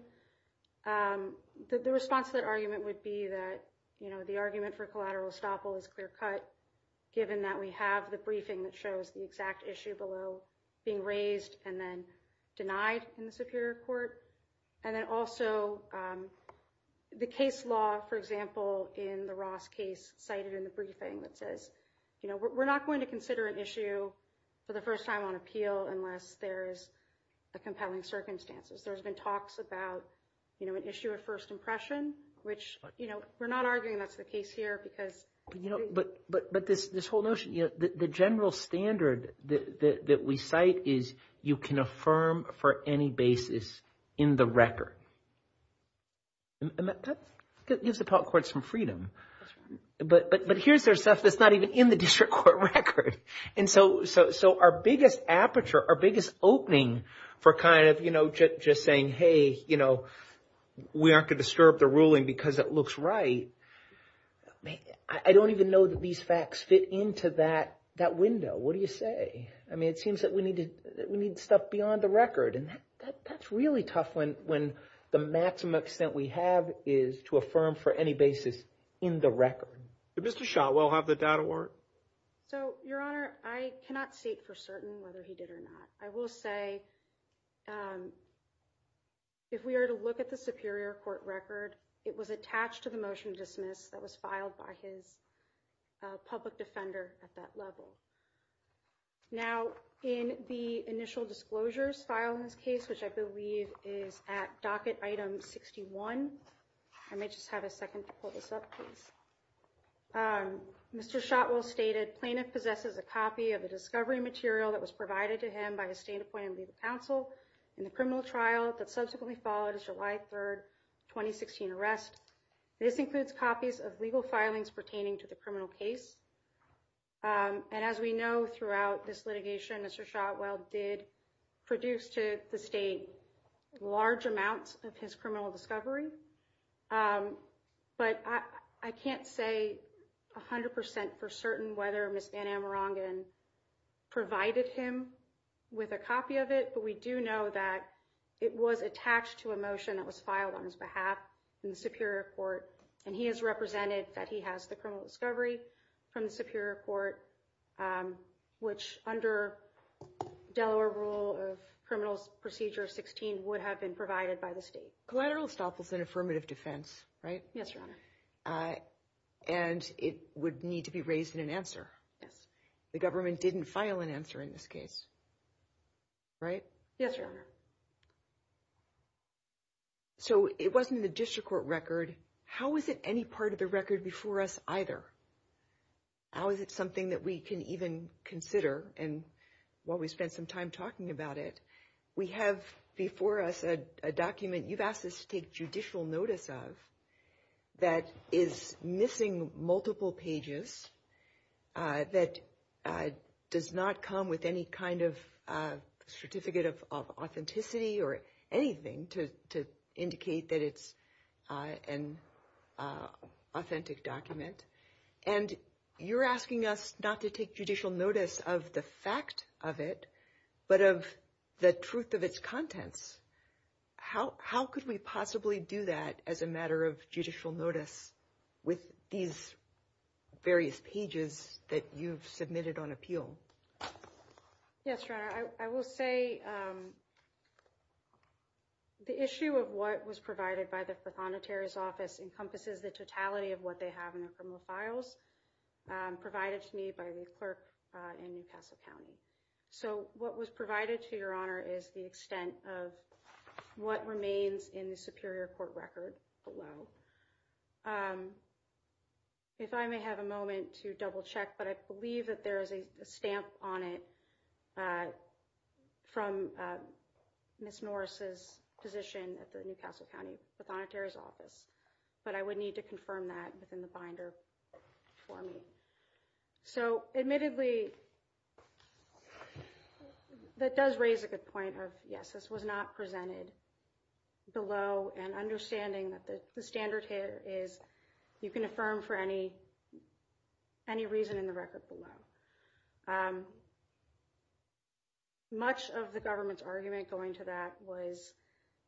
The response to that argument would be that, you know, the argument for collateral estoppel is clear cut, given that we have the briefing that shows the exact issue below being raised and then denied in the superior court. And then also the case law, for example, in the Ross case cited in the briefing that says, you know, we're not going to consider an issue for the first time on appeal unless there's a compelling circumstances. There's been talks about, you know, an issue of first impression, which, you know, we're not arguing that's the case here because... But this whole notion, you know, the general standard that we cite is you can affirm for any basis in the record. And that gives the appellate courts some freedom. But here's their stuff that's not even in the district court record. And so our biggest aperture, our biggest opening for kind of, you know, just saying, hey, you know, we aren't going to stir up the ruling because it looks right. I don't even know that these facts fit into that window. What do you say? I mean, it seems that we need stuff beyond the record. And that's really tough when the maximum extent we have is to affirm for any basis in the record. Did Mr. Shotwell have the doubt award? So, Your Honor, I cannot state for certain whether he did or not. I will say if we are to look at the Superior Court record, it was attached to the motion to dismiss that was filed by his public defender at that level. Now, in the initial disclosures file in this case, which I believe is at docket item 61, I may just have a second to pull this up, please. Mr. Shotwell stated plaintiff possesses a copy of the discovery material that was provided to him by a state appointed legal counsel in the criminal trial that subsequently followed July 3rd, 2016 arrest. This includes copies of legal filings pertaining to the criminal case. And as we know, throughout this litigation, Mr. Shotwell did produce to the state large amounts of his criminal discovery. But I can't say 100% for certain whether Ms. Van Amerongen provided him with a copy of it. But we do know that it was attached to a motion that was filed on his behalf in the Superior Court. And he has represented that he has the criminal discovery from the Superior Court, which under Delaware rule of criminal procedure 16 would have been provided by the state. Collateral estoppel is an affirmative defense, right? Yes, Your Honor. And it would need to be raised in an answer. Yes. The government didn't file an answer in this case, right? Yes, Your Honor. So it wasn't the district court record. How is it any part of the record before us either? How is it something that we can even consider? And while we spent some time talking about it, we have before us a document you've asked us to take judicial notice of that is missing multiple pages, that does not come with any kind of certificate of authenticity or anything to indicate that it's an authentic document. And you're asking us not to take judicial notice of the fact of it, but of the truth of its contents. How could we possibly do that as a matter of judicial notice with these various pages that you've submitted on appeal? Yes, Your Honor. I will say the issue of what was provided by the Proconotary's office encompasses the totality of what they have in their criminal files provided to me by the clerk in New Castle County. So what was provided to Your Honor is the extent of what remains in the superior court record below. If I may have a moment to double check, but I believe that there is a stamp on it from Ms. Norris's position at the New Castle County Proconotary's office, but I would need to confirm that within the binder for me. So admittedly, that does raise a good point of yes, this was not presented below and understanding that the standard here is you can affirm for any reason in the record below. Much of the government's argument going to that was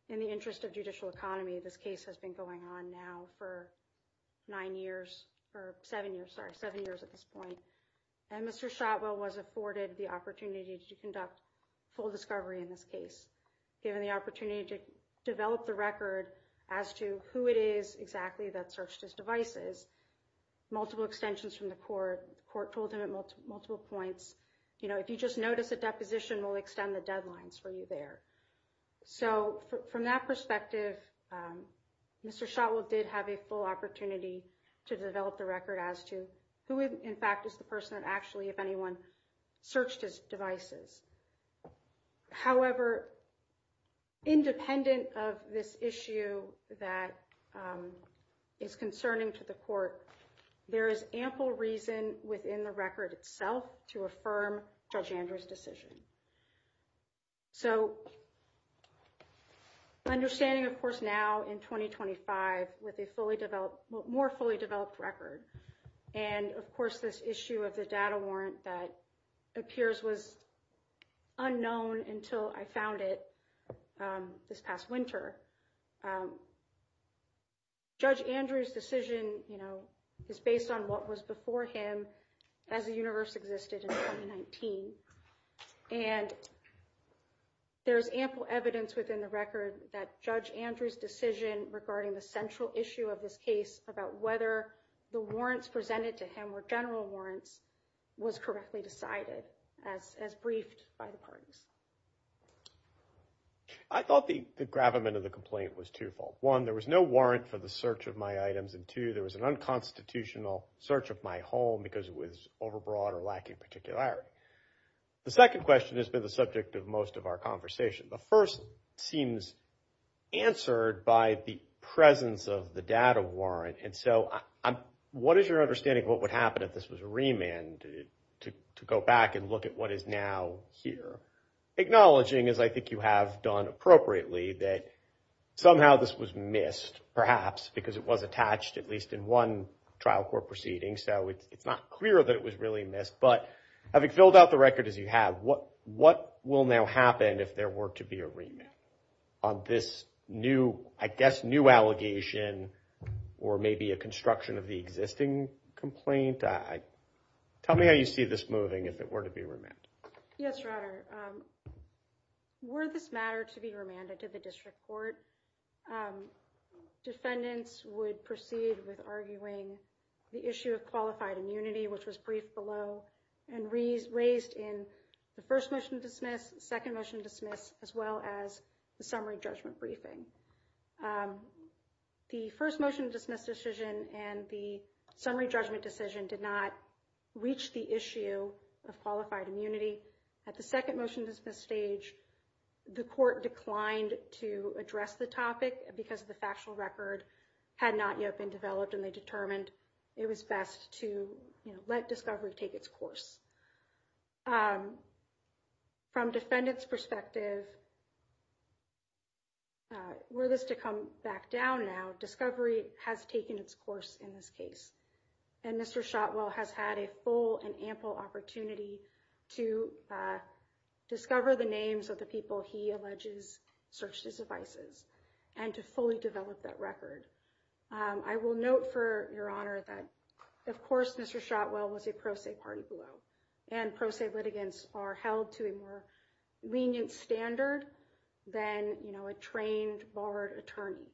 in the interest of judicial economy. This case has been going on now for nine years or seven years, sorry, seven years at this point. And Mr. Shotwell was afforded the opportunity to conduct full discovery in this case, given the opportunity to develop the record as to who it is exactly that searched his devices. Multiple extensions from the court. Court told him at multiple points, you know, if you just notice a deposition will extend the deadlines for you there. So from that perspective, Mr. Shotwell did have a full opportunity to develop the record as to who, in fact, is the person that actually, if anyone searched his devices. However, independent of this issue that is concerning to the court, there is ample reason within the record itself to affirm Judge Andrews decision. So understanding, of course, now in twenty twenty five with a fully developed, more fully developed record. And of course, this issue of the data warrant that appears was unknown until I found it this past winter. Judge Andrews decision is based on what was before him as the universe existed in nineteen. And there is ample evidence within the record that Judge Andrews decision regarding the central issue of this case about whether the warrants presented to him were general warrants was correctly decided as as briefed by the parties. I thought the gravamen of the complaint was twofold. One, there was no warrant for the search of my items. And two, there was an unconstitutional search of my home because it was overbroad or lacking particularity. The second question has been the subject of most of our conversation. The first seems answered by the presence of the data warrant. And so what is your understanding of what would happen if this was remanded to go back and look at what is now here? Acknowledging, as I think you have done appropriately, that somehow this was missed perhaps because it was attached at least in one trial court proceeding. So it's not clear that it was really missed. But having filled out the record as you have, what what will now happen if there were to be a remand on this new, I guess, new allegation or maybe a construction of the existing complaint? Tell me how you see this moving if it were to be remanded. Yes, Your Honor. Were this matter to be remanded to the district court, defendants would proceed with arguing the issue of qualified immunity, which was briefed below and raised in the first motion to dismiss, second motion to dismiss, as well as the summary judgment briefing. The first motion to dismiss decision and the summary judgment decision did not reach the issue of qualified immunity. At the second motion to dismiss stage, the court declined to address the topic because the factual record had not yet been developed and they determined it was best to let discovery take its course. From defendants perspective, were this to come back down now, discovery has taken its course in this case. And Mr. Shotwell has had a full and ample opportunity to discover the names of the people he alleges searched his devices and to fully develop that record. I will note for Your Honor that, of course, Mr. Shotwell was a pro se party below and pro se litigants are held to a more lenient standard than a trained barred attorney.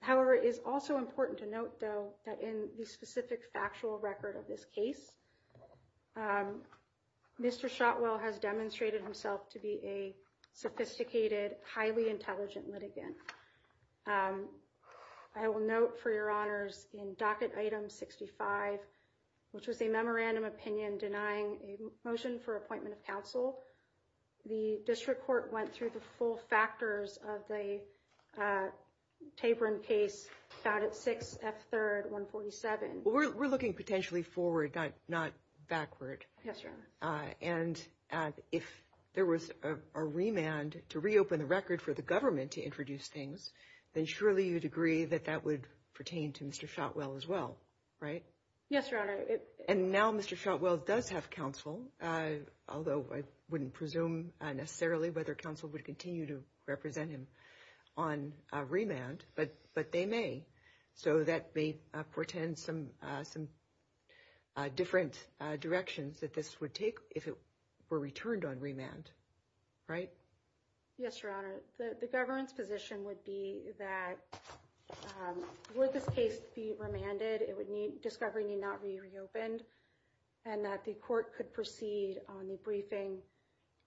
However, it is also important to note, though, that in the specific factual record of this case, Mr. Shotwell has demonstrated himself to be a sophisticated, highly intelligent litigant. I will note for Your Honors in docket item 65, which was a memorandum opinion denying a motion for appointment of counsel. The district court went through the full factors of the tapering case found at 6 F third 147. We're looking potentially forward, not backward. Yes, sir. And if there was a remand to reopen the record for the government to introduce things, then surely you'd agree that that would pertain to Mr. Shotwell as well, right? Yes, Your Honor. And now Mr. Shotwell does have counsel, although I wouldn't presume necessarily whether counsel would continue to represent him on remand. But but they may. So that may portend some some different directions that this would take if it were returned on remand. Right. Yes, Your Honor. The government's position would be that would this case be remanded? It would need discovery, need not be reopened and that the court could proceed on the briefing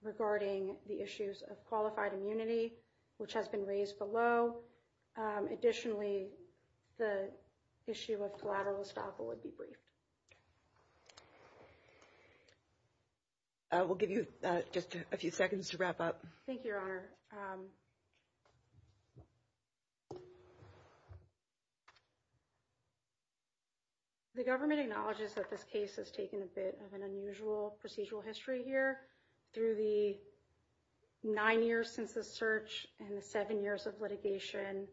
regarding the issues of qualified immunity, which has been raised below. Additionally, the issue of collateral estoppel would be briefed. I will give you just a few seconds to wrap up. Thank you, Your Honor. The government acknowledges that this case has taken a bit of an unusual procedural history here through the nine years since the search and the seven years of litigation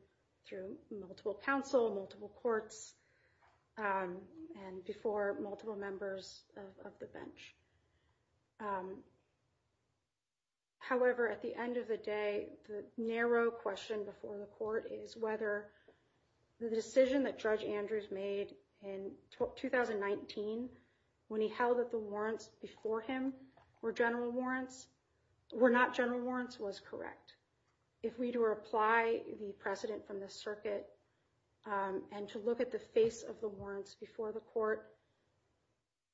through multiple counsel, multiple courts and before multiple members of the bench. However, at the end of the day, the narrow question before the court is whether the decision that Judge Andrews made in 2019 when he held that the warrants before him were general warrants were not general warrants was correct. If we were to apply the precedent from the circuit and to look at the face of the warrants before the court,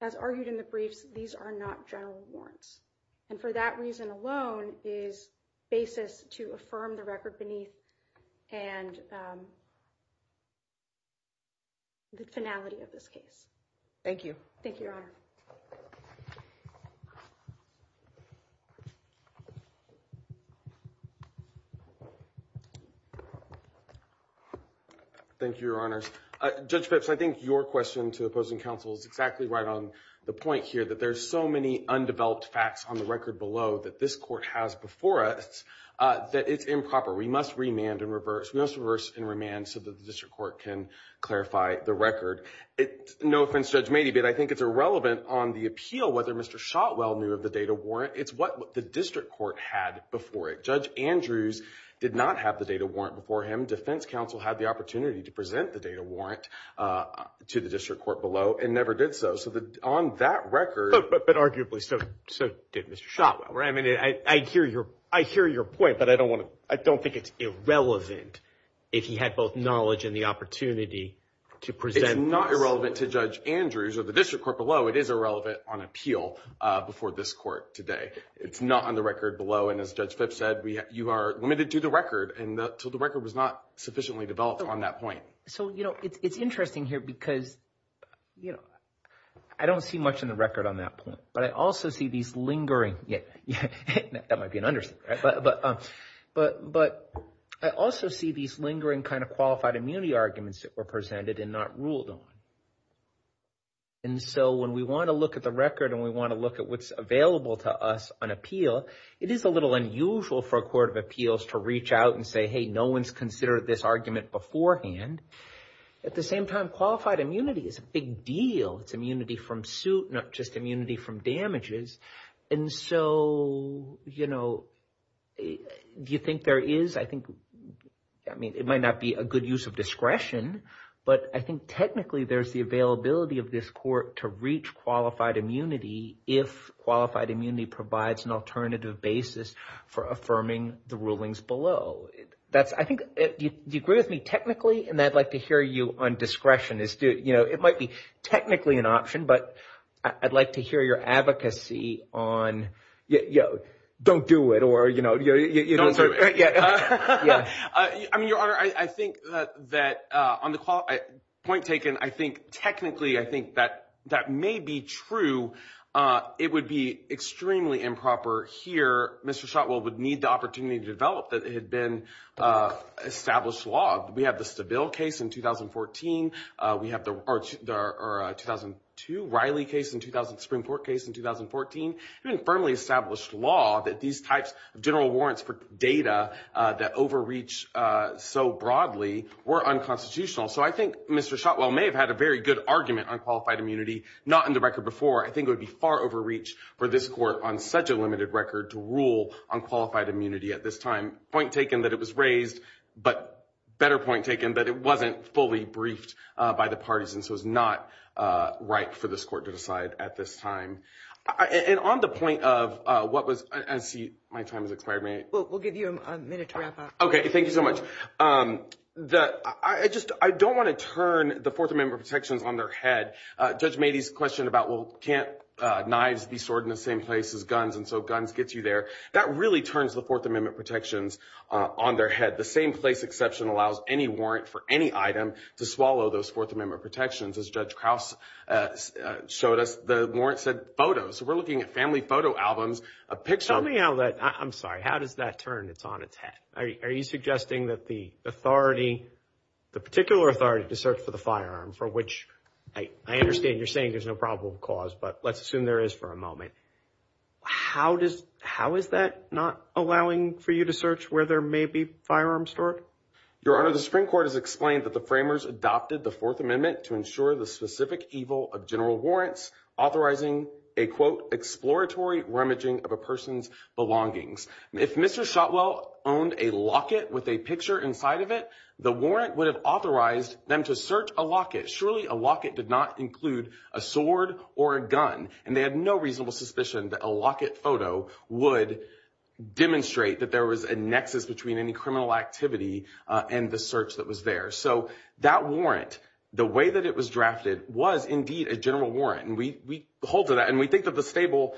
as argued in the briefs, these are not general warrants. And for that reason alone is basis to affirm the record beneath and the finality of this case. Thank you. Thank you, Your Honor. Judge Phipps, I think your question to opposing counsel is exactly right on the point here that there's so many undeveloped facts on the record below that this court has before us that it's improper. We must remand and reverse. We must reverse and remand so that the district court can clarify the record. No offense, Judge Mady, but I think it's irrelevant on the appeal whether Mr. Shotwell knew of the data warrant. It's what the district court had before it. Judge Andrews did not have the data warrant before him. Defense counsel had the opportunity to present the data warrant to the district court below and never did so. So on that record. But arguably so did Mr. Shotwell. I hear your I hear your point, but I don't want to I don't think it's irrelevant if he had both knowledge and the opportunity to present. It's not irrelevant to Judge Andrews or the district court below. It is irrelevant on appeal before this court today. It's not on the record below. And as Judge Phipps said, you are limited to the record. And so the record was not sufficiently developed on that point. So, you know, it's interesting here because, you know, I don't see much in the record on that point, but I also see these lingering that might be an understatement, but I also see these lingering kind of qualified immunity arguments that were presented and not ruled on. And so when we want to look at the record and we want to look at what's available to us on appeal, it is a little unusual for a court of appeals to reach out and say, hey, no one's considered this argument beforehand. At the same time, qualified immunity is a big deal. It's immunity from suit, not just immunity from damages. And so, you know, do you think there is I think I mean, it might not be a good use of discretion, but I think technically there's the availability of this court to reach qualified immunity if qualified immunity provides an alternative basis for affirming the rulings below. That's I think you agree with me technically. And I'd like to hear you on discretion. You know, it might be technically an option, but I'd like to hear your advocacy on, you know, don't do it or, you know, you don't. Yeah. I mean, Your Honor, I think that on the point taken, I think technically I think that that may be true. It would be extremely improper here. Mr. Shotwell would need the opportunity to develop that had been established law. We have the Stabile case in 2014. We have the 2002 Riley case in 2000, Supreme Court case in 2014, even firmly established law that these types of general warrants for data that overreach so broadly were unconstitutional. So I think Mr. Shotwell may have had a very good argument on qualified immunity, not in the record before. I think it would be far overreach for this court on such a limited record to rule on qualified immunity at this time. Point taken that it was raised, but better point taken that it wasn't fully briefed by the parties. And so it's not right for this court to decide at this time. And on the point of what was my time has been, I don't want to turn the Fourth Amendment protections on their head. Judge Mady's question about, well, can't knives be stored in the same place as guns? And so guns gets you there. That really turns the Fourth Amendment protections on their head. The same place exception allows any warrant for any item to swallow those Fourth Amendment protections. As Judge Krause showed us, the warrant said photos. We're looking at family photo albums, a picture. Tell me how that I'm sorry. How does that turn? It's on its head. Are you suggesting that the authority, the particular authority to search for the firearm for which I understand you're saying there's no probable cause, but let's assume there is for a moment. How does how is that not allowing for you to search where there may be firearms stored? Your Honor, the Supreme Court has explained that the framers adopted the Fourth Amendment to ensure the specific evil of general warrants, authorizing a, quote, exploratory rummaging of a person's belongings. If Mr. Shotwell owned a locket with a picture inside of it, the warrant would have authorized them to search a locket. Surely a locket did not include a sword or a gun. And they had no reasonable suspicion that a locket photo would demonstrate that there was a nexus between any criminal activity and the general warrant. And we hold to that. And we think that the stable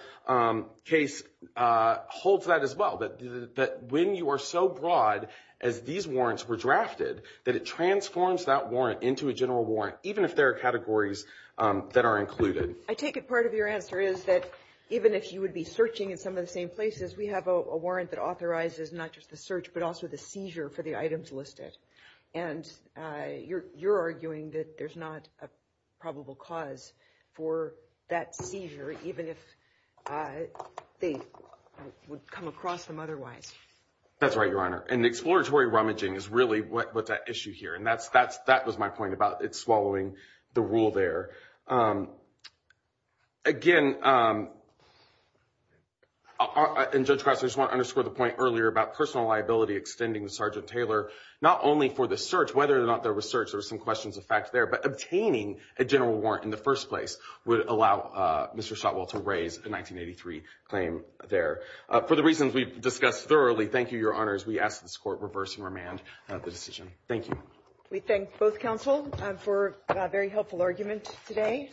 case holds that as well, that when you are so broad as these warrants were drafted, that it transforms that warrant into a general warrant, even if there are categories that are included. I take it part of your answer is that even if you would be searching in some of the same places, we have a warrant that authorizes not just the search, but also the seizure for the items listed. And you're arguing that there's not a probable cause for that seizure, even if they would come across them otherwise. That's right, Your Honor. And exploratory rummaging is really what's at issue here. And that was my point about it swallowing the rule there. Again, and Judge Krause, I just want to underscore the point earlier about personal liability extending to Sergeant Taylor, not only for the search, whether or not there was search, there was some questions of fact there, but obtaining a general warrant in the first place would allow Mr. Shotwell to raise the 1983 claim there. For the reasons we've discussed thoroughly, thank you, Your Honors. We ask that this Court reverse and remand the decision. Thank you. We thank both counsel for a very helpful argument today.